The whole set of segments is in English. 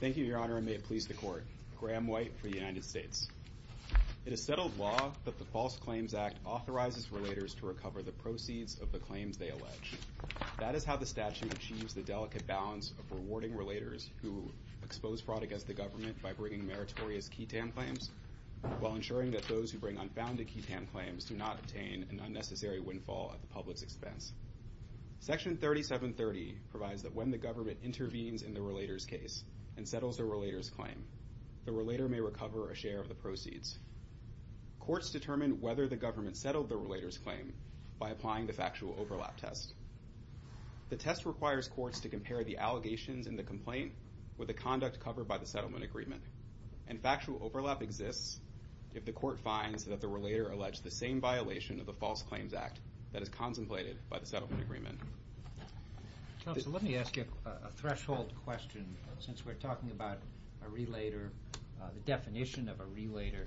Thank you, Your Honor, and may it please the Court. Graham White for the United States It is settled law that the False Claims Act authorizes relators to recover the proceeds of the claims they allege. That is how the statute achieves the delicate balance of rewarding relators who expose fraud against the government by bringing meritorious ketam claims, while ensuring that those who Section 3730 provides that when the government intervenes in the relator's case and settles the relator's claim, the relator may recover a share of the proceeds. Courts determine whether the government settled the relator's claim by applying the factual overlap test. The test requires courts to compare the allegations in the complaint with the conduct covered by the settlement agreement, and factual overlap exists if the court finds that the relator alleged the same violation of the False Claims Act that is contemplated by the settlement agreement. Robert R. Reilly Counselor, let me ask you a threshold question since we're talking about a relator, the definition of a relator.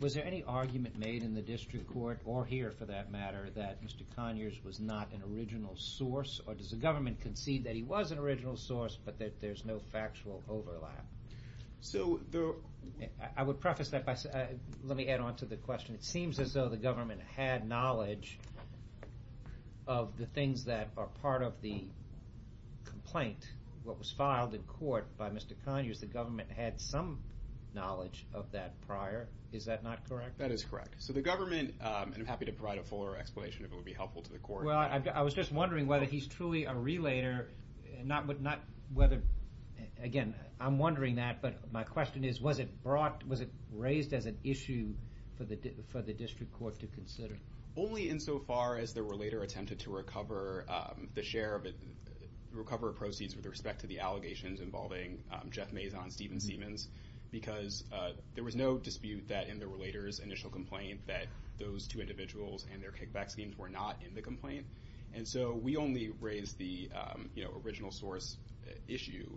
Was there any argument made in the district court, or here for that matter, that Mr. Conyers was not an original source, or does the government concede that he was an original source but that there's no factual overlap? I would preface that by saying, let me add on to the question, it seems as though the government had knowledge of the things that are part of the complaint, what was filed in court by Mr. Conyers, the government had some knowledge of that prior. Is that not correct? That is correct. So the government, and I'm happy to provide a fuller explanation if it would be helpful to the court. Well, I was just wondering whether he's truly a relator, not whether, again, I'm wondering that, but my question is, was it brought, was it raised as an issue for the district court to consider? Only insofar as the relator attempted to recover the share of it, recover proceeds with respect to the allegations involving Jeff Mazon, Stephen Siemens, because there was no dispute that in the relator's initial complaint that those two individuals and their kickback schemes were not in the complaint. And so we only raised the original source issue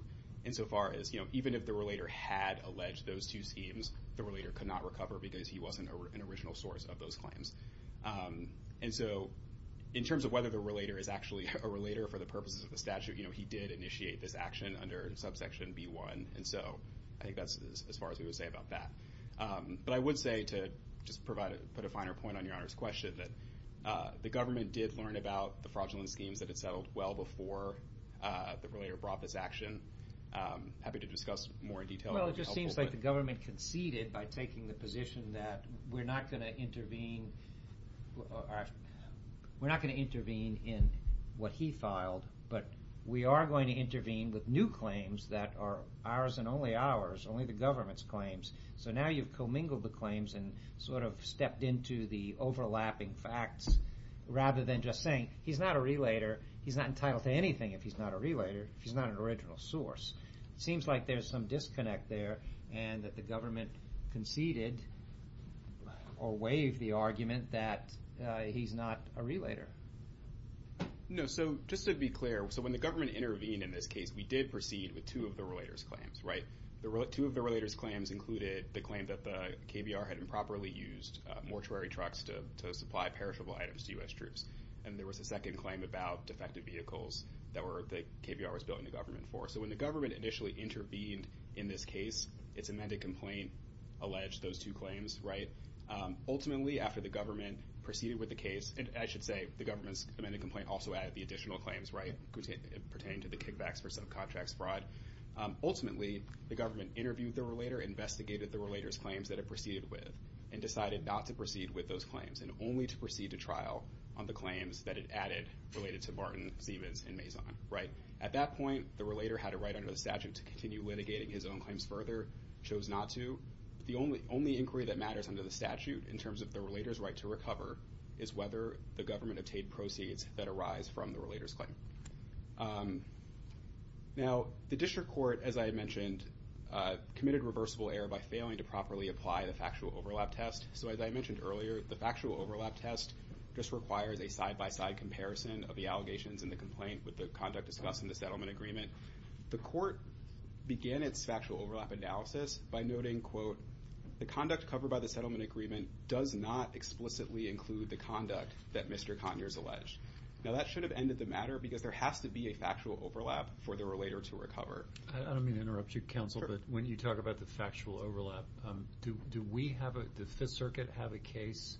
insofar as, even if the relator had alleged those two schemes, the relator could not recover because he wasn't an original source of those claims. And so in terms of whether the relator is actually a relator for the purposes of the statute, he did initiate this action under subsection B1. And so I think that's as far as we would say about that. But I would say to just provide, put a finer point on Your Honor's question that the government did learn about the fraudulent schemes that settled well before the relator brought this action. I'm happy to discuss more in detail. Well, it just seems like the government conceded by taking the position that we're not going to intervene, we're not going to intervene in what he filed, but we are going to intervene with new claims that are ours and only ours, only the government's claims. So now you've commingled the claims and sort of stepped into the overlapping facts rather than just saying, he's not a relator, he's not entitled to anything if he's not a relator, if he's not an original source. It seems like there's some disconnect there and that the government conceded or waived the argument that he's not a relator. No, so just to be clear, so when the government intervened in this case, we did proceed with two of the relator's claims, right? Two of the relator's claims included the claim that the KBR had improperly used mortuary trucks to supply perishable items to U.S. troops. And there was a second claim about defective vehicles that the KBR was billing the government for. So when the government initially intervened in this case, its amended complaint alleged those two claims, right? Ultimately, after the government proceeded with the case, and I should say, the government's amended complaint also added the additional claims, right, pertaining to the kickbacks for subcontracts fraud. Ultimately, the government interviewed the relator, investigated the relator's claims that it proceeded with, and decided not to proceed with those claims and only to proceed to trial on the claims that it added related to Barton, Sievis, and Mazon, right? At that point, the relator had a right under the statute to continue litigating his own claims further, chose not to. The only inquiry that matters under the statute in terms of the relator's right to recover is whether the government obtained proceeds that arise from the relator's claim. Now, the district court, as I mentioned, committed reversible error by failing to properly apply the factual overlap test. So as I mentioned earlier, the factual overlap test just requires a side-by-side comparison of the allegations and the complaint with the conduct discussed in the settlement agreement. The court began its factual overlap analysis by noting, quote, the conduct covered by the settlement agreement does not explicitly include the conduct that Mr. Conyers alleged. Now, that should have ended the matter because there has to be a factual overlap for the relator to recover. I don't mean to interrupt you, counsel, but when you talk about the factual overlap, do we have a, does the Fifth Circuit have a case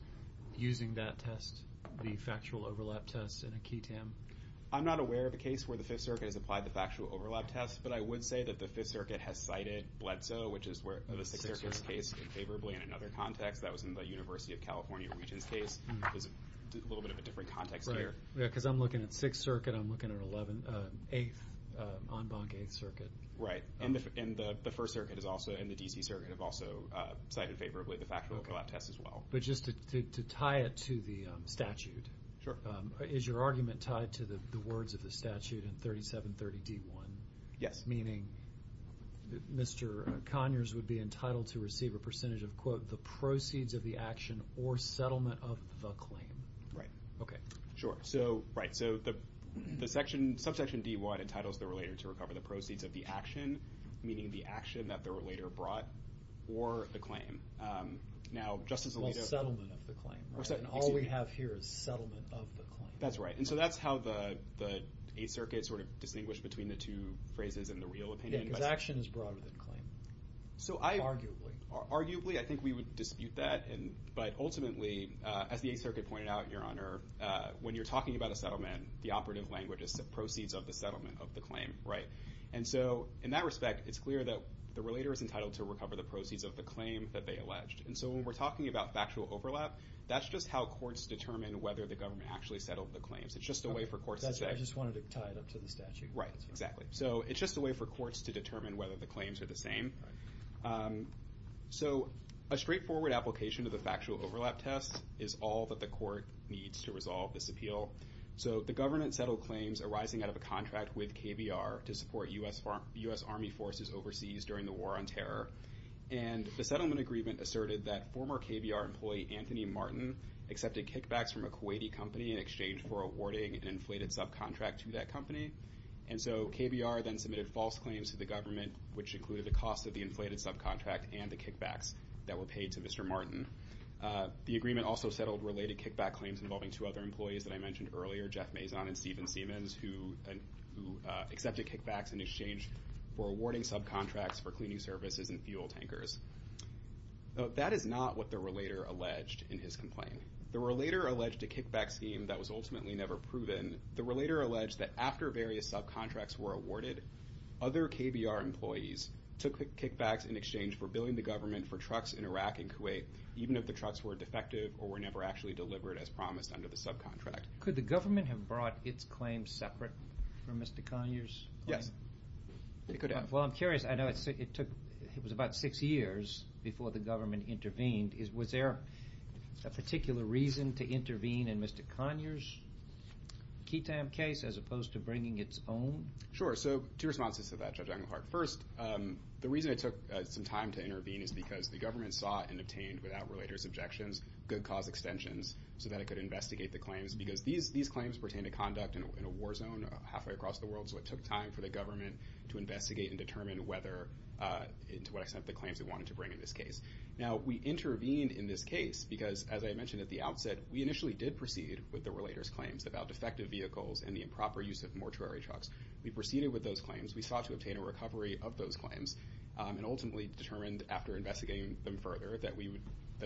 using that test, the factual overlap test in a QI-TAM? I'm not aware of a case where the Fifth Circuit has applied the factual overlap test, but I would say that the Fifth Circuit has cited Bledsoe, which is where the Sixth Circuit's case in favorably in another context. That was in the University of California region's case. It was a little bit of a different context there. Right, yeah, because I'm looking at Sixth Circuit, I'm looking at 11th, 8th, en banc 8th Circuit. Right, and the First Circuit has also, and the D.C. Circuit have also cited favorably the factual overlap test as well. But just to tie it to the statute. Sure. Is your argument tied to the words of the statute in 3730 D.I.? Yes. Meaning Mr. Conyers would be entitled to receive a percentage of, quote, the proceeds of the action or settlement of the claim. Right. Okay. Sure. So, right, so the section, subsection D.I. entitles the relator to recover the proceeds of the action, meaning the action that the relator brought, or the claim. Now, Justice Alito. Well, settlement of the claim, right? And all we have here is settlement of the claim. That's right, and so that's how the 8th Circuit sort of distinguished between the two phrases in the real opinion. Yeah, because action is broader than claim. So I. Arguably. Arguably, I think we would dispute that, but ultimately, as the 8th Circuit pointed out, Your Honor, when you're talking about a settlement, the operative language is the proceeds of the settlement of the claim, and so in that respect, it's clear that the relator is entitled to recover the proceeds of the claim that they alleged, and so when we're talking about factual overlap, that's just how courts determine whether the government actually settled the claims. It's just a way for courts to say. That's why I just wanted to tie it up to the statute. Right, exactly. So it's just a way for courts to determine whether the claims are the same. So a straightforward application of the factual overlap test is all that the court needs to determine whether or not the claims are the same, and so that's what we're trying to do here. All right, so we're going to move on to KBR, to support U.S. Army forces overseas during the War on Terror, and the settlement agreement asserted that former KBR employee Anthony Martin accepted kickbacks from a Kuwaiti company in exchange for awarding an inflated subcontract to that company, and so KBR then submitted false claims to the government, which included the cost of the inflated subcontract and the kickbacks that were paid to Mr. Martin. The agreement also settled related kickback claims involving two other employees that I mentioned earlier, Jeff Mazon and Stephen Siemens, who accepted kickbacks in exchange for awarding subcontracts for cleaning services and fuel tankers. That is not what the relator alleged in his complaint. The relator alleged a kickback scheme that was ultimately never proven. The relator alleged that after various subcontracts were awarded, other KBR employees took kickbacks in exchange for billing the government for trucks in Iraq and Kuwait, even if the trucks were defective or were never actually delivered as promised under the subcontract. Could the government have brought its claims separate from Mr. Conyers? Yes. Well, I'm curious. I know it took, it was about six years before the government intervened. Was there a particular reason to intervene in Mr. Conyers' KETAM case as opposed to bringing its own? Sure, so two responses to that, Judge Englehart. First, the reason it took some time to intervene is the government sought and obtained, without relator's objections, good cause extensions so that it could investigate the claims. Because these claims pertain to conduct in a war zone halfway across the world, so it took time for the government to investigate and determine whether, to what extent, the claims it wanted to bring in this case. Now, we intervened in this case because, as I mentioned at the outset, we initially did proceed with the relator's claims about defective vehicles and the improper use of mortuary trucks. We proceeded with those claims. We sought to obtain a recovery of those claims and ultimately determined, after investigating them further, that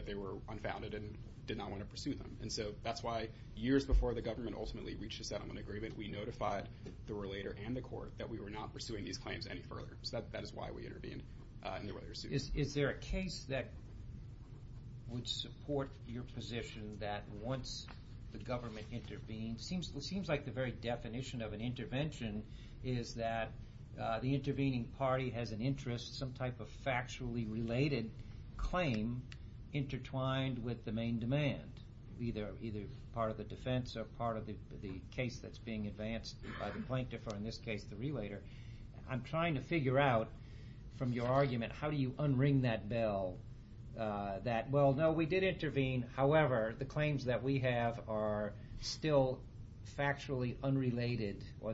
they were unfounded and did not want to pursue them. And so that's why, years before the government ultimately reached a settlement agreement, we notified the relator and the court that we were not pursuing these claims any further. So that is why we intervened in the relator's suit. Is there a case that would support your position that once the government intervened, it seems like the very definition of an intervention is that the intervening party has an interest, some type of factually related claim intertwined with the main demand, either part of the defense or part of the case that's being advanced by the plaintiff or, in this case, the relator. I'm trying to figure out, from your argument, how do you unring that bell that, no, we did intervene. However, the claims that we have are still factually unrelated or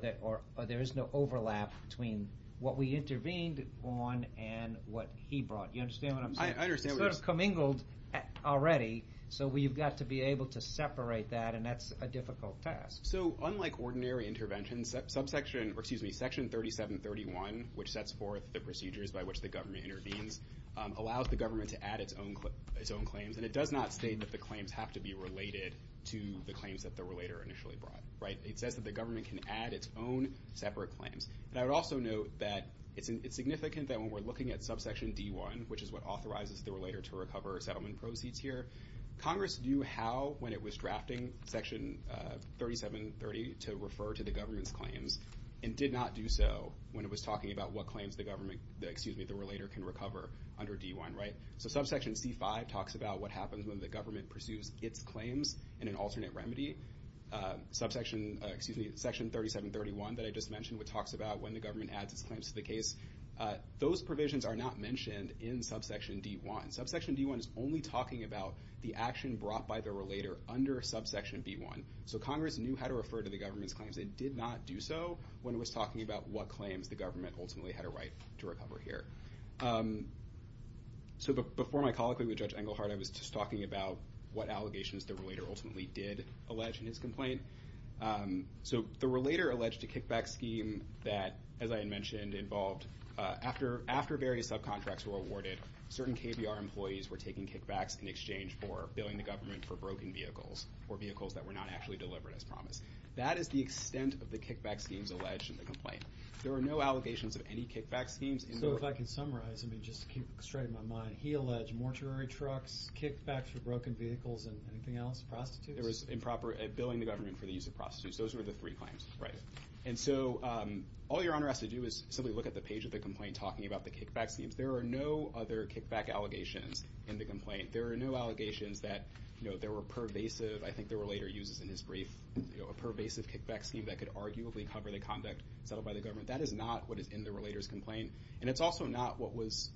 there is no overlap between what we intervened on and what he brought. You understand what I'm saying? I understand what you're saying. It's sort of commingled already, so we've got to be able to separate that and that's a difficult task. So unlike ordinary interventions, section 3731, which sets forth the procedures by which the government intervenes, allows the government to add its own claims and it does not state that the claims have to be related to the claims that the relator initially brought. It says that the government can add its own separate claims. I would also note that it's significant that when we're looking at subsection D1, which is what authorizes the relator to recover settlement proceeds here, Congress knew how, when it was drafting section 3730, to refer to the government's claims and did not do so when it was talking about what claims the government, excuse me, the relator can recover under D1. So subsection C5 talks about what happens when the government pursues its claims in an alternate remedy. Section 3731 that I just mentioned, which talks about when the government adds its claims to the case, those provisions are not mentioned in subsection D1. Subsection D1 is only talking about the action brought by the relator under subsection B1. So Congress knew how to refer to the government's claims. The government ultimately had a right to recover here. So before my colloquy with Judge Engelhardt, I was just talking about what allegations the relator ultimately did allege in his complaint. So the relator alleged to kickback scheme that, as I had mentioned, involved after various subcontracts were awarded, certain KBR employees were taking kickbacks in exchange for billing the government for broken vehicles or vehicles that were not actually delivered as promised. That is the extent of the kickback schemes alleged in the complaint. There are no allegations of any kickback schemes. So if I can summarize, I mean, just to keep straight of my mind, he alleged mortuary trucks, kickbacks for broken vehicles, and anything else, prostitutes? There was improper billing the government for the use of prostitutes. Those were the three claims, right? And so all Your Honor has to do is simply look at the page of the complaint talking about the kickback schemes. There are no other kickback allegations in the complaint. There are no allegations that, you know, there were pervasive, I think the relator uses in his brief, a pervasive kickback scheme that could arguably cover the conduct settled by the government. That is not what is in the relator's complaint, and it's also not what was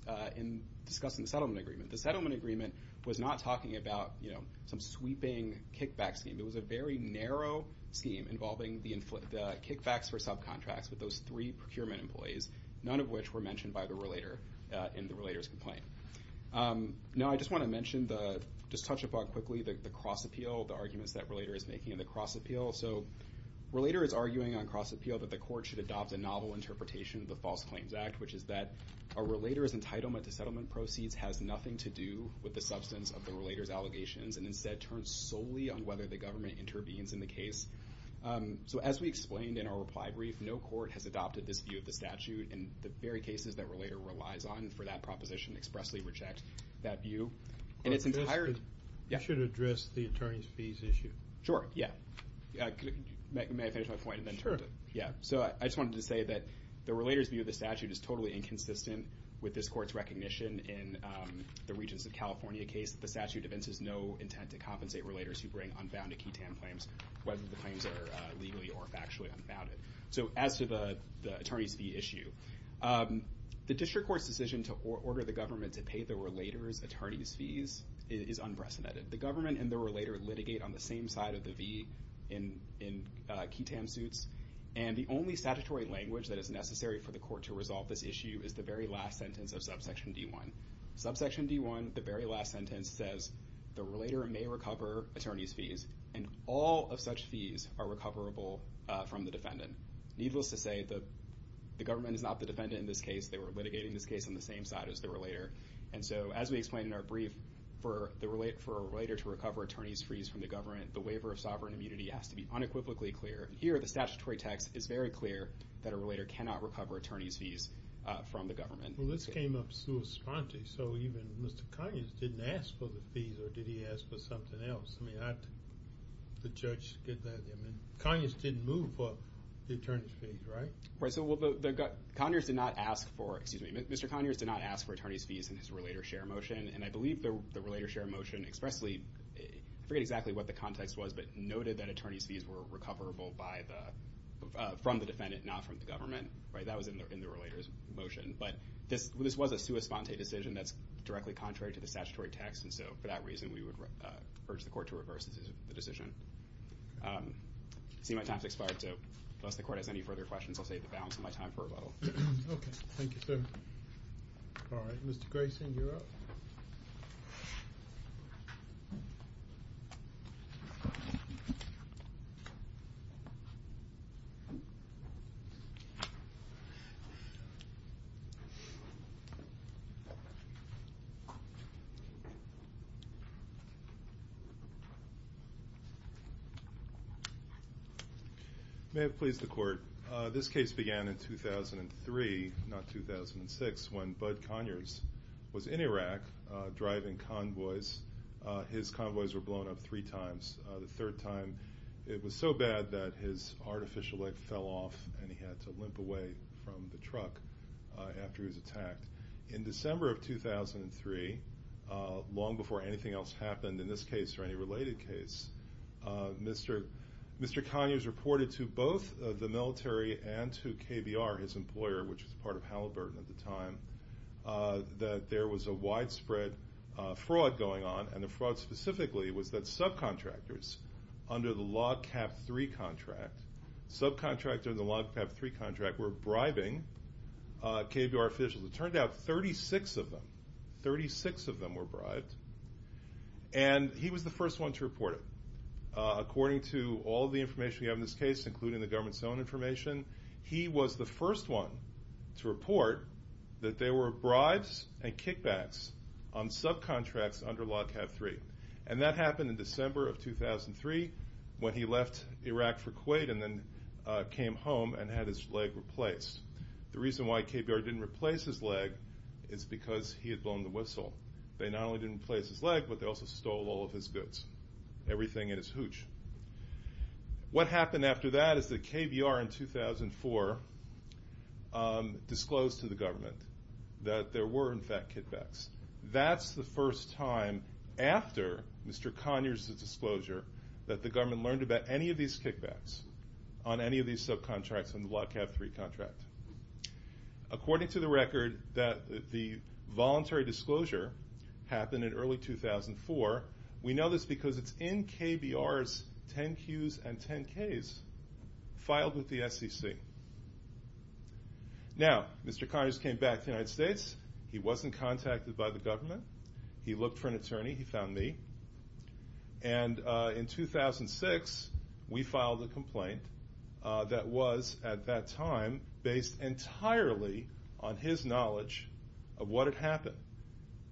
discussed in the settlement agreement. The settlement agreement was not talking about, you know, some sweeping kickback scheme. It was a very narrow scheme involving the kickbacks for subcontracts with those three procurement employees, none of which were mentioned by the relator in the relator's complaint. Now I just want to mention, just touch upon quickly, the cross appeal, the arguments that relator is making in the cross appeal. So relator is arguing on cross appeal that the court should adopt a novel interpretation of the False Claims Act, which is that a relator's entitlement to settlement proceeds has nothing to do with the substance of the relator's allegations, and instead turns solely on whether the government intervenes in the case. So as we explained in our reply brief, no court has adopted this view of the statute, and the very cases that relator relies on for that entire... You should address the attorney's fees issue. Sure, yeah. May I finish my point and then turn it? Sure. Yeah. So I just wanted to say that the relator's view of the statute is totally inconsistent with this court's recognition in the Regents of California case that the statute evinces no intent to compensate relators who bring unfounded ketamine claims, whether the claims are legally or factually unfounded. So as to the attorney's fee issue, the district court's decision to order the government to pay the relator's attorney's fees is unprecedented. The government and the relator litigate on the same side of the V in ketamine suits, and the only statutory language that is necessary for the court to resolve this issue is the very last sentence of subsection D1. Subsection D1, the very last sentence, says the relator may recover attorney's fees, and all of such fees are recoverable from the defendant. Needless to say, the government is not the defendant in this case. They were litigating this case on the same side as the relator, and so as we explained in our brief, for a relator to recover attorney's fees from the government, the waiver of sovereign immunity has to be unequivocally clear. Here, the statutory text is very clear that a relator cannot recover attorney's fees from the government. Well, this came up sui sponte, so even Mr. Conyers didn't ask for the fees, or did he ask for Mr. Conyers did not ask for attorney's fees in his relator's share motion, and I believe the relator's share motion expressly, I forget exactly what the context was, but noted that attorney's fees were recoverable from the defendant, not from the government. That was in the relator's motion, but this was a sui sponte decision that's directly contrary to the statutory text, and so for that reason, we would urge the court to reverse the decision. I see my time has expired, so unless the balance of my time for rebuttal. Okay, thank you, sir. Alright, Mr. Grayson, you're up. May it please the court. This case began in 2003, not 2006, when Bud Conyers was in Iraq driving convoys. His convoys were blown up three times. The third time, it was so bad that his artificial leg fell off, and he had to limp away from the truck after he was attacked. In December of 2003, long before anything else happened in this case or any related case, Mr. Conyers reported to both the military and to KBR, his employer, which was part of Halliburton at the time, that there was a widespread fraud going on, and the fraud specifically was that subcontractors, under the Log Cab 3 contract, were bribing KBR officials. It turned out 36 of them were bribed, and he was the first one to report it. According to all the information we have in this case, including the government's own information, he was the first one to report that there were bribes and kickbacks on subcontracts under Log Cab 3. And that happened in December of 2003, when he left Iraq for Kuwait and then came home and had his leg replaced. The reason why KBR didn't replace his leg is because he had blown the whistle. They not only didn't replace his leg, but they also stole all of his goods, everything in his hooch. What happened after that is that KBR, in 2004, disclosed to the government that there were, in fact, kickbacks. That's the first time, after Mr. Conyers' disclosure, that the government learned about any of these kickbacks on any of these subcontracts under the Log Cab 3 contract. According to the record, the voluntary disclosure happened in early 2004. We know this because it's in KBR's 10-Qs and 10-Ks, filed with the SEC. Now, Mr. Conyers came back to the United States. He wasn't contacted by the government. He looked for an attorney. He found me. And in 2006, we filed a complaint that was, at that time, based entirely on his knowledge of what had happened.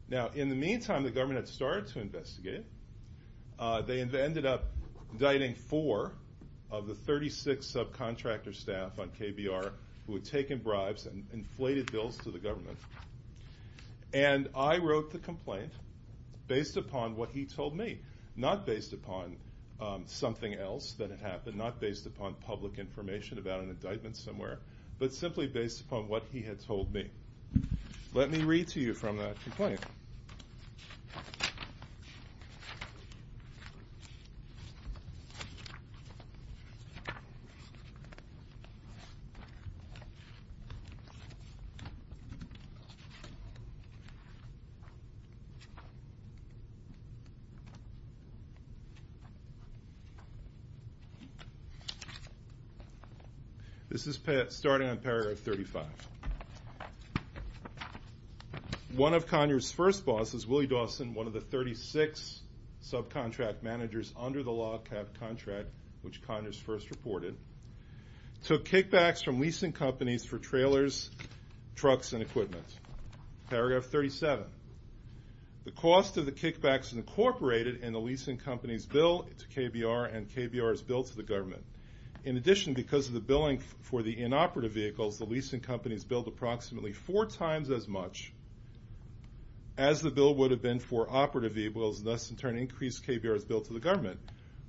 Now, in the meantime, the government had started to investigate. They ended up indicting four of the 36 subcontractor staff on KBR who had taken bribes and inflated bills to the government. And I wrote the complaint based upon what he told me, not based upon something else that had happened, not based upon public information about an This is starting on paragraph 35. One of Conyers' first bosses, Willie Dawson, one of the 36 subcontract managers under the Log Cab contract, which Conyers first reported, took kickbacks from leasing companies for trailers, trucks, and equipment. Paragraph 37. The cost of the kickbacks incorporated in the leasing company's bill to KBR and KBR's bill to the government. In addition, because of the billing for the inoperative vehicles, the leasing companies billed approximately four times as much as the bill would have been for operative vehicles, and thus, in turn, increased KBR's bill to the government.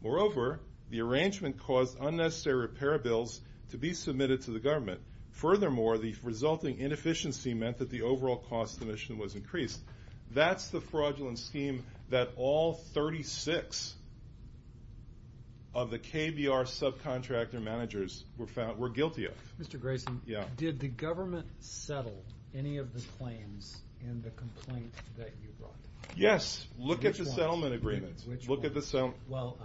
Moreover, the arrangement caused unnecessary repair bills to be submitted to the government. Furthermore, the resulting inefficiency meant that the overall cost of the mission was increased. That's the fraudulent scheme that all 36 of the KBR subcontractor managers were guilty of. Mr. Grayson, did the government settle any of the claims in the complaint that you brought? Yes. Look at the settlement agreements. Well,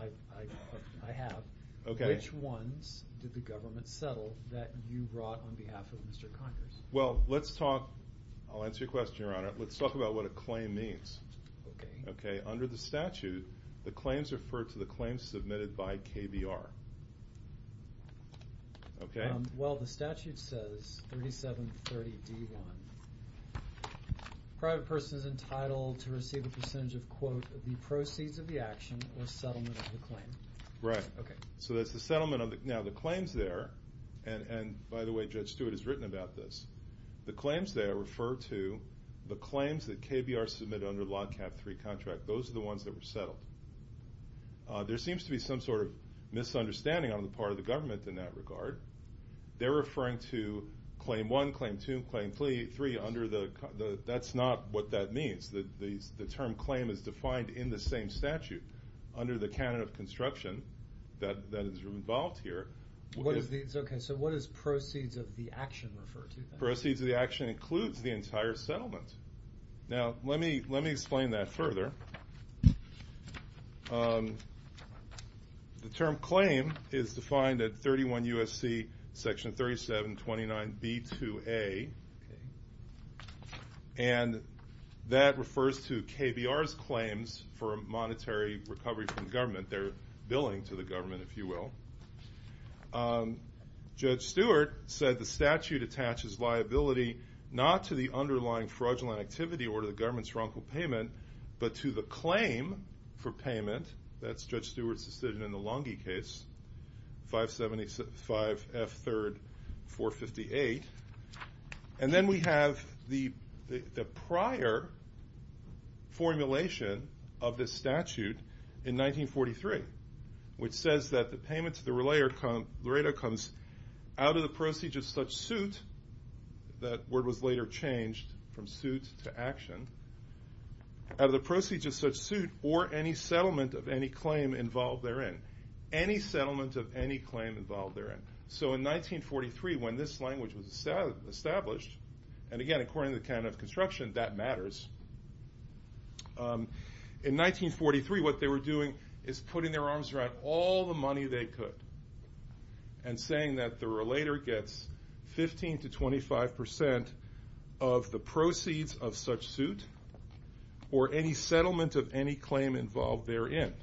I have. Which ones did the government settle that you brought on behalf of Mr. Conyers? Well, let's talk about what a claim means. Under the statute, the claims refer to the claims submitted by KBR. Okay. Well, the statute says 3730 D1. A private person is entitled to receive a percentage of, quote, the proceeds of the action or settlement of the claim. Right. Okay. So that's the settlement. Now, the claims there, and by the way, Judge Stewart has written about this, the claims there refer to the claims that KBR submitted under the LODCAP III contract. Those are the ones that were settled. There seems to be some sort of misunderstanding on the part of the government in that regard. They're referring to Claim 1, Claim 2, Claim 3 under the – that's not what that means. The term claim is defined in the same statute under the canon of construction that is involved here. Okay. So what does proceeds of the action refer to? Proceeds of the action includes the entire settlement. Now, let me explain that further. The term claim is defined at 31 U.S.C. section 3729 B2A, and that refers to KBR's claims for monetary recovery from government. They're billing to the government, if you will. Judge Stewart said the statute attaches liability not to the underlying fraudulent activity or to the government's wrongful payment, but to the claim for payment. That's Judge Stewart's decision in the Lange case, 575 F. 3rd 458. And then we have the prior formulation of this statute in 1943, which says that the payment to the relator comes out of the proceeds of such suit – that word was later changed from suit to action – out of the proceeds of such suit or any settlement of any claim involved therein. Any settlement of any claim involved therein. So in 1943, when this language was established, and again, according to the canon of construction, that matters. In 1943, what they were doing is putting their arms around all the money they could and saying that the relator gets 15 to 25 percent of the proceeds of such suit or any settlement of any claim involved therein.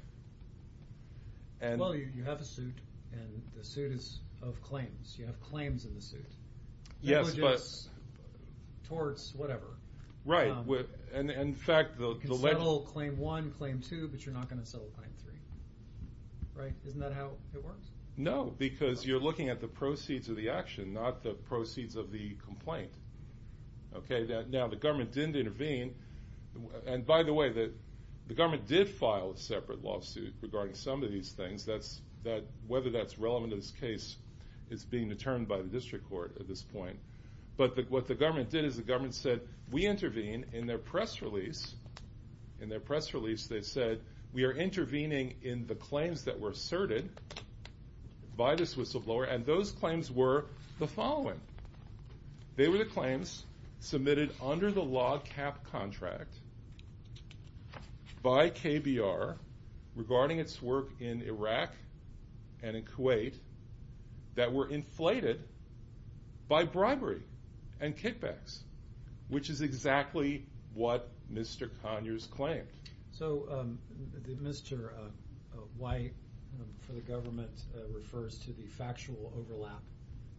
Well, you have a suit, and the suit is of claims. You have claims in the suit. Yes, but – Towards whatever. Right. In fact, the – You can settle Claim 1, Claim 2, but you're not going to settle Claim 3. Right? Isn't that how it works? No, because you're looking at the proceeds of the action, not the proceeds of the complaint. Okay? Now, the government didn't intervene. And by the way, the government did file a separate lawsuit regarding some of these things. Whether that's relevant to this case is being determined by the district court at this point. But what the government did is the government said, we intervene in their press release. In their press release, they said, we are intervening in the claims that were asserted by the Swiss of Lower, and those claims were the following. They were the claims submitted under the log cap contract by KBR regarding its work in Iraq and in Kuwait that were inflated by bribery and kickbacks, which is exactly what Mr. Conyers claimed. So, Mr. White, for the government, refers to the factual overlap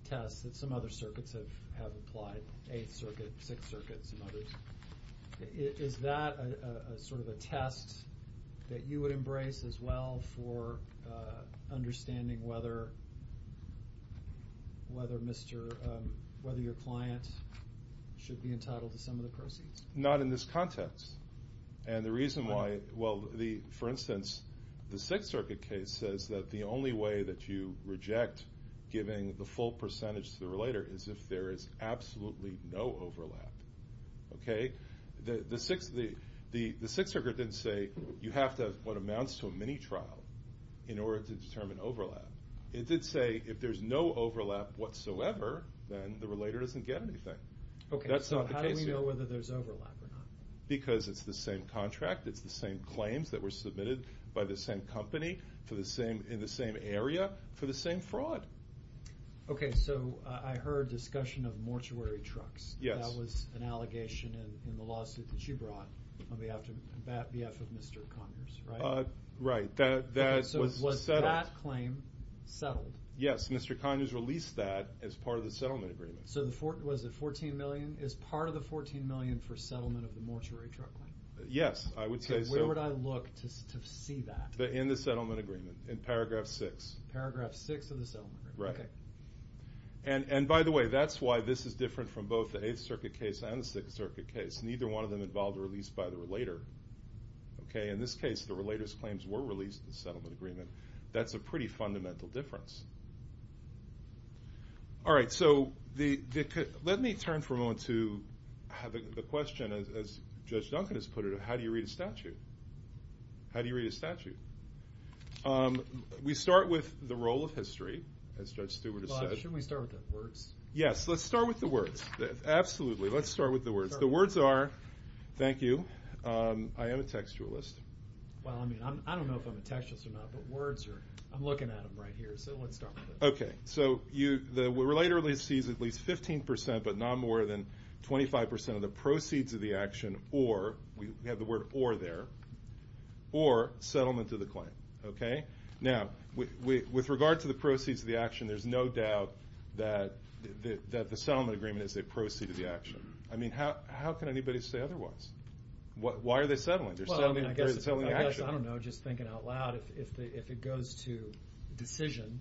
test that some other circuits have applied, Eighth Circuit, Sixth Circuit, some others. Is that sort of a test that you would embrace as well for understanding whether your client should be entitled to some of the proceeds? Not in this context. And the reason why, well, for instance, the Sixth Circuit case says that the only way that you reject giving the full percentage to the relator is if there is absolutely no overlap. Okay? The Sixth Circuit didn't say you have to have what amounts to a mini-trial in order to determine overlap. It did say if there is no overlap whatsoever, then the relator doesn't get anything. That's not the case here. Okay, so how do we know whether there is overlap or not? Because it's the same contract, it's the same claims that were submitted by the same company in the same area for the same fraud. Okay, so I heard discussion of mortuary trucks. Yes. That was an allegation in the lawsuit that you brought on behalf of Mr. Conyers, right? Right. Okay, so was that claim settled? Yes, Mr. Conyers released that as part of the settlement agreement. So was it $14 million? Is part of the $14 million for settlement of the mortuary truck claim? Yes, I would say so. Okay, where would I look to see that? In the settlement agreement, in paragraph 6. Paragraph 6 of the settlement agreement. Right. And by the way, that's why this is different from both the Eighth Circuit case and the Sixth Circuit case. Neither one of them involved a release by the relator. In this case, the relator's claims were released in the settlement agreement. That's a pretty fundamental difference. All right, so let me turn for a moment to have a question, as Judge Duncan has put it, of how do you read a statute? How do you read a statute? We start with the role of history, as Judge Stewart has said. Well, shouldn't we start with the words? Yes, let's start with the words. Absolutely, let's start with the words. The words are, thank you, I am a textualist. Well, I mean, I don't know if I'm a textualist or not, but words are. I'm looking at them right here, so let's start with those. Okay, so the relator sees at least 15%, but not more than 25% of the proceeds of the action, or we have the word or there, or settlement of the claim, okay? Now, with regard to the proceeds of the action, there's no doubt that the settlement agreement is a proceed of the action. I mean, how can anybody say otherwise? Why are they settling? They're settling the action. Well, I guess, I don't know, just thinking out loud, if it goes to decision,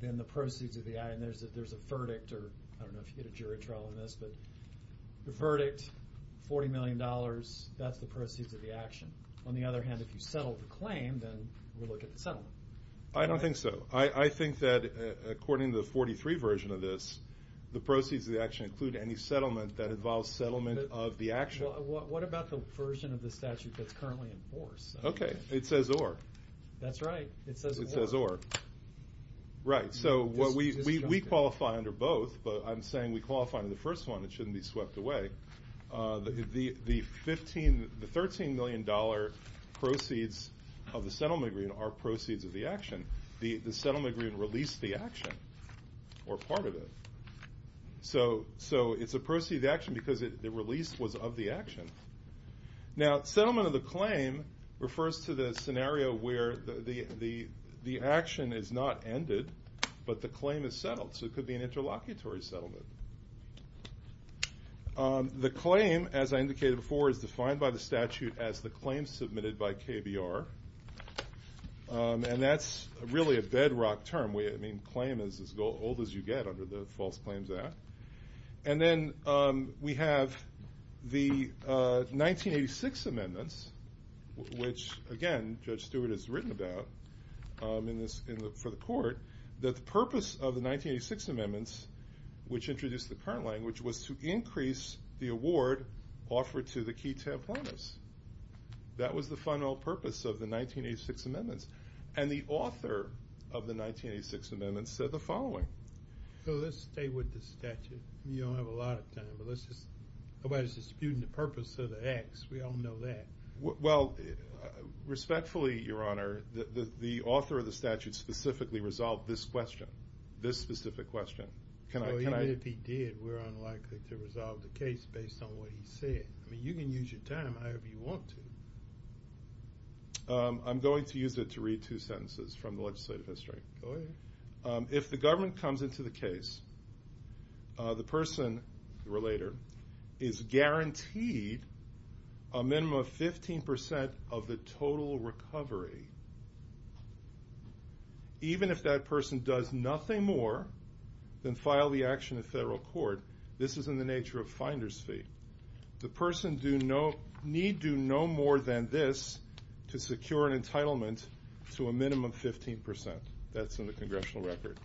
then the proceeds of the action, there's a verdict, or I don't know if you get a jury trial on this, but the verdict, $40 million, that's the proceeds of the action. On the other hand, if you settle the claim, then we'll look at the settlement. I don't think so. I think that according to the 43 version of this, the proceeds of the action include any settlement that involves settlement of the action. What about the version of the statute that's currently in force? Okay, it says or. That's right, it says or. It says or. Right, so we qualify under both, but I'm saying we qualify under the first one. It shouldn't be swept away. The $13 million proceeds of the settlement agreement are proceeds of the action. The settlement agreement released the action or part of it. So it's a proceed of the action because the release was of the action. Now, settlement of the claim refers to the scenario where the action is not ended, but the claim is settled, so it could be an interlocutory settlement. The claim, as I indicated before, is defined by the statute as the claim submitted by KBR, and that's really a bedrock term. I mean, claim is as old as you get under the False Claims Act. And then we have the 1986 amendments, which, again, Judge Stewart has written about for the court, that the purpose of the 1986 amendments, which introduced the current language, was to increase the award offered to the key templates. That was the final purpose of the 1986 amendments, and the author of the 1986 amendments said the following. So let's stay with the statute. You don't have a lot of time, but nobody's disputing the purpose of the acts. We all know that. Well, respectfully, Your Honor, the author of the statute specifically resolved this question, this specific question. Even if he did, we're unlikely to resolve the case based on what he said. I mean, you can use your time however you want to. I'm going to use it to read two sentences from the legislative history. Go ahead. If the government comes into the case, the person, the relator, is guaranteed a minimum of 15% of the total recovery. Even if that person does nothing more than file the action in federal court, this is in the nature of finder's fee. The person need do no more than this to secure an entitlement to a minimum 15%. That's in the congressional record.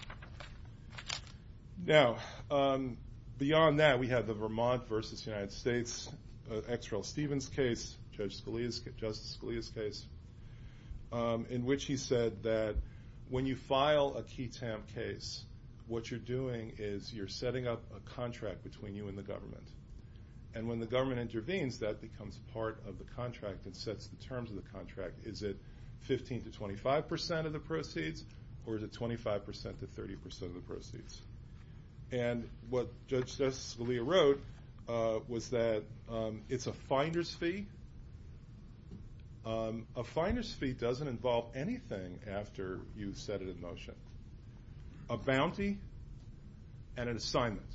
Now, beyond that, we have the Vermont v. United States, X. Rel. Stevens case, Justice Scalia's case, in which he said that when you file a key tam case, what you're doing is you're setting up a contract between you and the government. And when the government intervenes, that becomes part of the contract and sets the terms of the contract. Is it 15% to 25% of the proceeds, or is it 25% to 30% of the proceeds? And what Justice Scalia wrote was that it's a finder's fee. A finder's fee doesn't involve anything after you've set it in motion. A bounty and an assignment,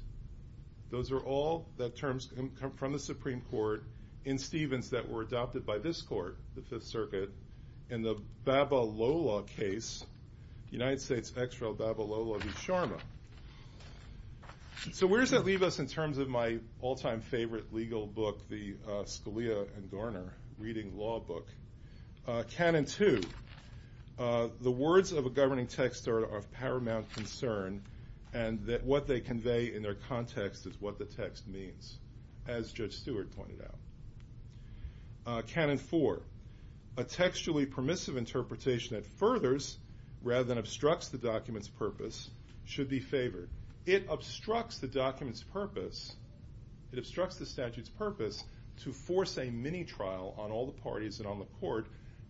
those are all the terms from the Supreme Court in Stevens that were adopted by this court, the Fifth Circuit, in the Babalola case, United States, X. Rel., Babalola v. Sharma. So where does that leave us in terms of my all-time favorite legal book, the Scalia and Garner Reading Law book? Canon 2, the words of a governing text are of paramount concern and that what they convey in their context is what the text means, as Judge Stewart pointed out. Canon 4, a textually permissive interpretation that furthers rather than obstructs the document's purpose should be favored. It obstructs the document's purpose, it obstructs the statute's purpose to force a mini-trial on all the parties and on the court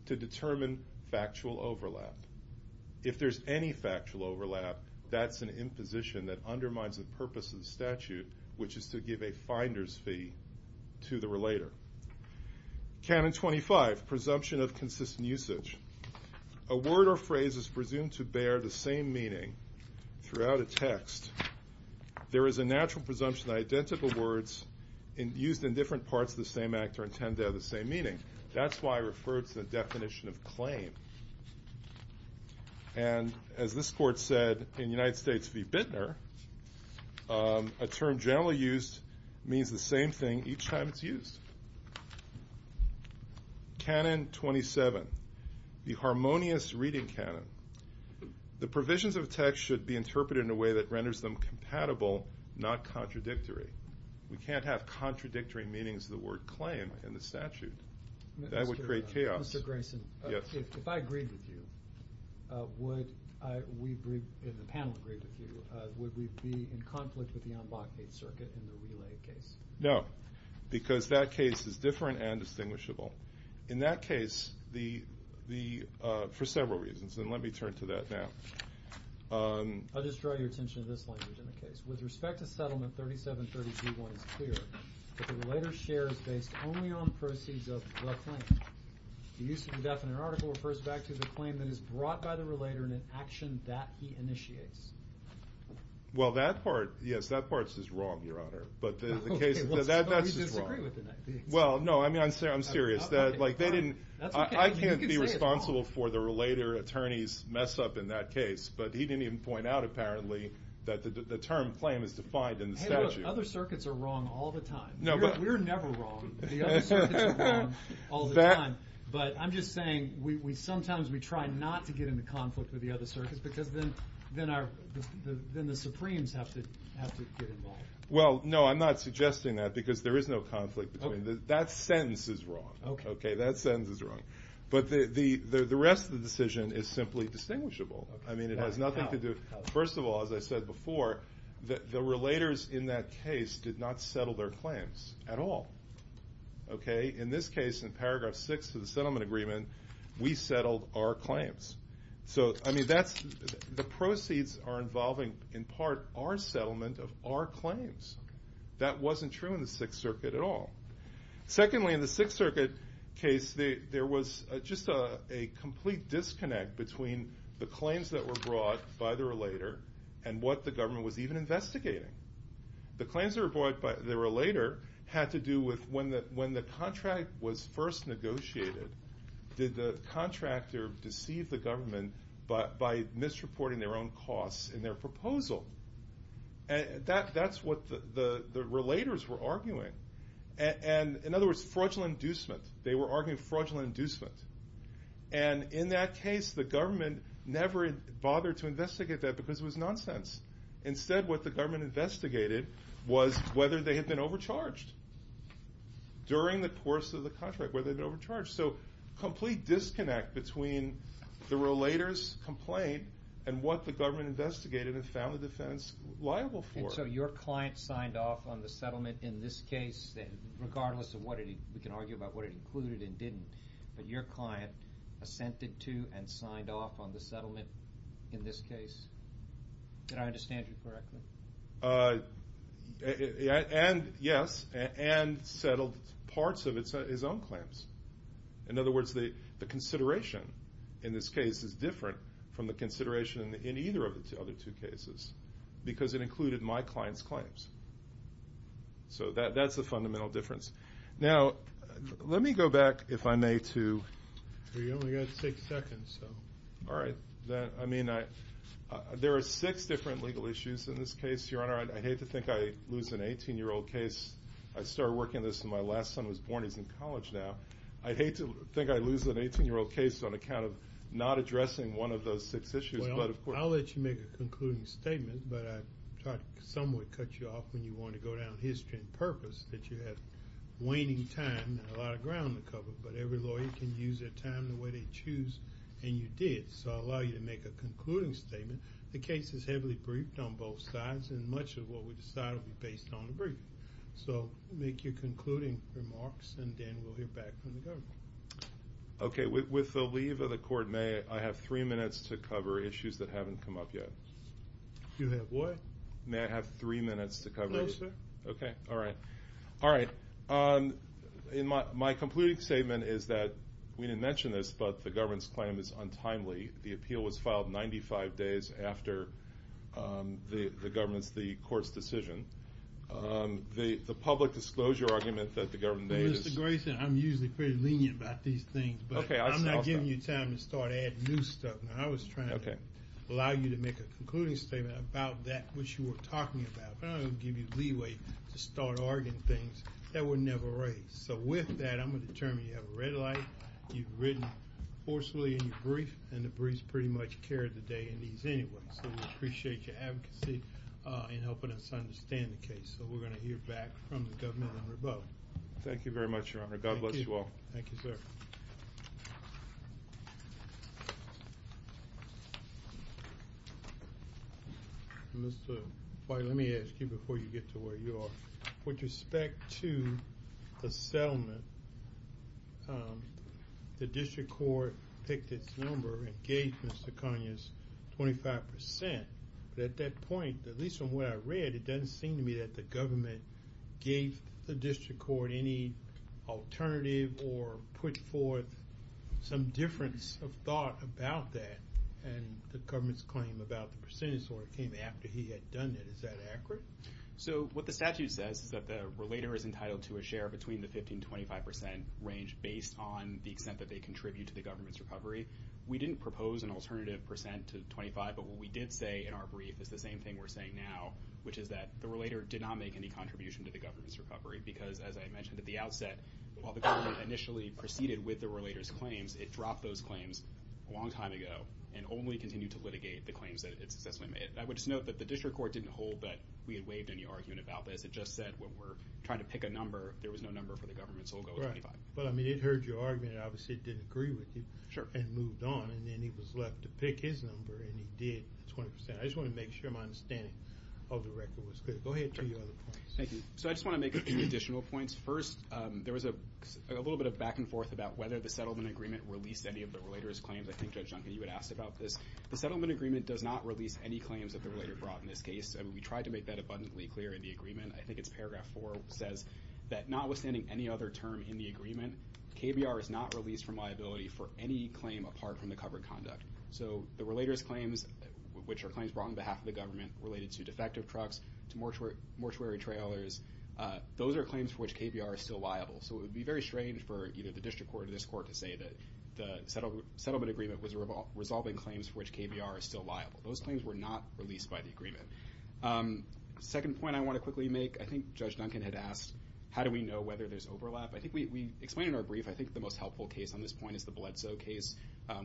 to determine factual overlap. If there's any factual overlap, that's an imposition that undermines the purpose of the statute, which is to give a finder's fee to the relator. Canon 25, presumption of consistent usage. A word or phrase is presumed to bear the same meaning throughout a text. There is a natural presumption that identical words used in different parts of the same act are intended to have the same meaning. That's why I referred to the definition of claim. And as this court said in United States v. Bittner, a term generally used means the same thing each time it's used. Canon 27, the harmonious reading canon. The provisions of a text should be interpreted in a way that renders them compatible, not contradictory. We can't have contradictory meanings of the word claim in the statute. That would create chaos. Mr. Grayson, if I agreed with you, if the panel agreed with you, would we be in conflict with the en bloc 8 circuit in the relay case? No, because that case is different and distinguishable. In that case, for several reasons, and let me turn to that now. I'll just draw your attention to this language in the case. With respect to settlement 3732, one is clear that the relator's share is based only on proceeds of the claim. The use of indefinite article refers back to the claim that is brought by the relator in an action that he initiates. Well, that part, yes, that part is just wrong, Your Honor. But the case, that's just wrong. Well, no, I'm serious. I can't be responsible for the relator attorney's mess up in that case, but he didn't even point out apparently that the term claim is defined in the statute. Other circuits are wrong all the time. We're never wrong. The other circuits are wrong all the time. But I'm just saying sometimes we try not to get into conflict with the other circuits because then the Supremes have to get involved. Well, no, I'm not suggesting that because there is no conflict. That sentence is wrong. Okay, that sentence is wrong. But the rest of the decision is simply distinguishable. I mean, it has nothing to do. First of all, as I said before, the relators in that case did not settle their claims at all. In this case, in paragraph six of the settlement agreement, we settled our claims. So, I mean, the proceeds are involving in part our settlement of our claims. That wasn't true in the Sixth Circuit at all. Secondly, in the Sixth Circuit case, there was just a complete disconnect between the claims that were brought by the relator and what the government was even investigating. The claims that were brought by the relator had to do with when the contract was first negotiated, did the contractor deceive the government by misreporting their own costs in their proposal? That's what the relators were arguing. And, in other words, fraudulent inducement. They were arguing fraudulent inducement. And, in that case, the government never bothered to investigate that because it was nonsense. Instead, what the government investigated was whether they had been overcharged during the course of the contract, whether they'd been overcharged. So, complete disconnect between the relator's complaint and what the government investigated and found the defense liable for. And so your client signed off on the settlement in this case, regardless of what it, we can argue about what it included and didn't, but your client assented to and signed off on the settlement in this case? Did I understand you correctly? And, yes, and settled parts of his own claims. In other words, the consideration in this case is different from the consideration in either of the other two cases because it included my client's claims. So that's the fundamental difference. Now, let me go back, if I may, to… Well, you've only got six seconds, so… All right. I mean, there are six different legal issues in this case, Your Honor. I'd hate to think I'd lose an 18-year-old case. I started working on this when my last son was born. He's in college now. I'd hate to think I'd lose an 18-year-old case on account of not addressing one of those six issues. Well, I'll let you make a concluding statement, but I thought some would cut you off when you wanted to go down history and purpose, that you had waning time and a lot of ground to cover. But every lawyer can use their time the way they choose, and you did. So I'll allow you to make a concluding statement. The case is heavily briefed on both sides, and much of what we decide will be based on the brief. So make your concluding remarks, and then we'll hear back from the government. Okay. With the leave of the court, may I have three minutes to cover issues that haven't come up yet? You have what? May I have three minutes to cover it? No, sir. Okay. All right. All right. My concluding statement is that we didn't mention this, but the government's claim is untimely. The appeal was filed 95 days after the court's decision. The public disclosure argument that the government made is— Well, Mr. Grayson, I'm usually pretty lenient about these things, but I'm not giving you time to start adding new stuff. I was trying to allow you to make a concluding statement about that which you were talking about, but I don't want to give you leeway to start arguing things that were never raised. So with that, I'm going to determine you have a red light, you've written forcefully in your brief, and the brief's pretty much carried the day in these anyways. So we appreciate your advocacy in helping us understand the case. So we're going to hear back from the government and the rebuttal. Thank you very much, Your Honor. God bless you all. Thank you, sir. Mr. White, let me ask you before you get to where you are. With respect to the settlement, the district court picked its number and gave Mr. Conyers 25%, but at that point, at least from what I read, it doesn't seem to me that the government gave the district court any alternative or put forth some difference of thought about that and the government's claim about the percentage order came after he had done it. Is that accurate? So what the statute says is that the relator is entitled to a share between the 15% and 25% range based on the extent that they contribute to the government's recovery. We didn't propose an alternative percent to 25%, but what we did say in our brief is the same thing we're saying now, which is that the relator did not make any contribution to the government's recovery because, as I mentioned at the outset, while the government initially proceeded with the relator's claims, it dropped those claims a long time ago and only continued to litigate the claims that it successfully made. I would just note that the district court didn't hold that we had waived any argument about this. It just said when we're trying to pick a number, there was no number for the government, so we'll go with 25%. But, I mean, it heard your argument. Obviously, it didn't agree with you and moved on, and then he was left to pick his number, and he did, 20%. I just want to make sure my understanding of the record was clear. Go ahead. Thank you. So I just want to make a few additional points. First, there was a little bit of back and forth about whether the settlement agreement released any of the relator's claims. I think Judge Duncan, you had asked about this. The settlement agreement does not release any claims that the relator brought in this case, and we tried to make that abundantly clear in the agreement. I think it's paragraph 4 says that notwithstanding any other term in the agreement, KBR is not released from liability for any claim apart from the covered conduct. So the relator's claims, which are claims brought on behalf of the government related to defective trucks, to mortuary trailers, those are claims for which KBR is still liable. So it would be very strange for either the district court or this court to say that the settlement agreement was resolving claims for which KBR is still liable. Those claims were not released by the agreement. The second point I want to quickly make, I think Judge Duncan had asked, how do we know whether there's overlap? I think we explained in our brief, I think the most helpful case on this point is the Bledsoe case,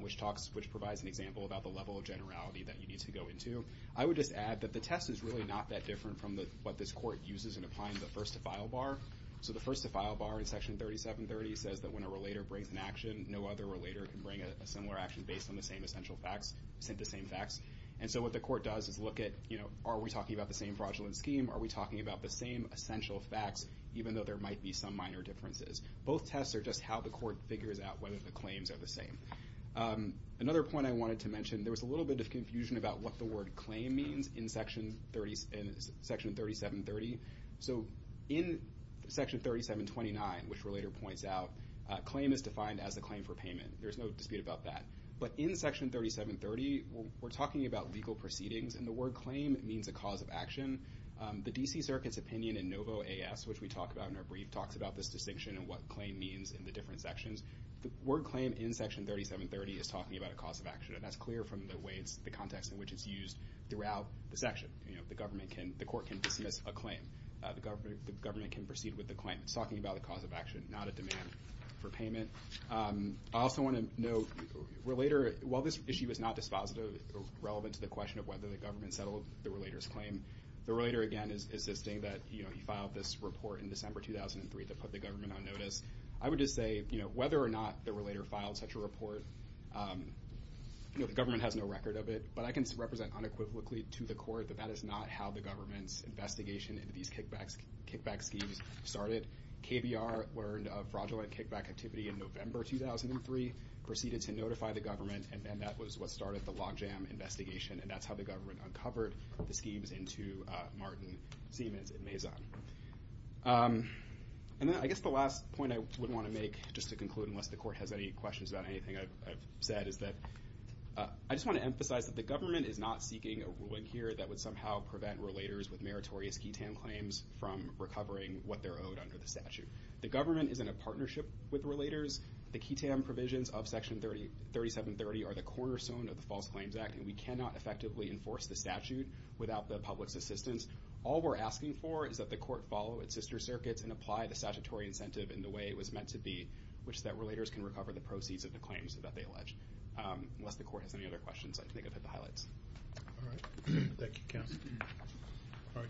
which provides an example about the level of generality that you need to go into. I would just add that the test is really not that different from what this court uses in applying the first-to-file bar. So the first-to-file bar in Section 3730 says that when a relator brings an action, no other relator can bring a similar action based on the same essential facts, sent the same facts. And so what the court does is look at, you know, are we talking about the same fraudulent scheme? Are we talking about the same essential facts, even though there might be some minor differences? Both tests are just how the court figures out whether the claims are the same. Another point I wanted to mention, there was a little bit of confusion about what the word claim means in Section 3730. So in Section 3729, which a relator points out, claim is defined as a claim for payment. There's no dispute about that. But in Section 3730, we're talking about legal proceedings, and the word claim means a cause of action. The D.C. Circuit's opinion in Novo A.S., which we talk about in our brief, talks about this distinction and what claim means in the different sections. The word claim in Section 3730 is talking about a cause of action, and that's clear from the context in which it's used throughout the section. You know, the court can dismiss a claim. The government can proceed with the claim. It's talking about a cause of action, not a demand for payment. I also want to note, while this issue is not dispositive or relevant to the question of whether the government settled the relator's claim, the relator, again, is insisting that, you know, he filed this report in December 2003 that put the government on notice. I would just say, you know, whether or not the relator filed such a report, you know, the government has no record of it, but I can represent unequivocally to the court that that is not how the government's investigation into these kickback schemes started. KBR learned of fraudulent kickback activity in November 2003, proceeded to notify the government, and then that was what started the logjam investigation, and that's how the government uncovered the schemes into Martin Siemens and Maison. And then I guess the last point I would want to make, just to conclude, unless the court has any questions about anything I've said, is that I just want to emphasize that the government is not seeking a ruling here that would somehow prevent relators with meritorious QITAM claims from recovering what they're owed under the statute. The government is in a partnership with relators. The QITAM provisions of Section 3730 are the cornerstone of the False Claims Act, and we cannot effectively enforce the statute without the public's assistance. All we're asking for is that the court follow its sister circuits and apply the statutory incentive in the way it was meant to be, which is that relators can recover the proceeds of the claims that they allege. Unless the court has any other questions, I think I've hit the highlights. All right. Thank you, counsel.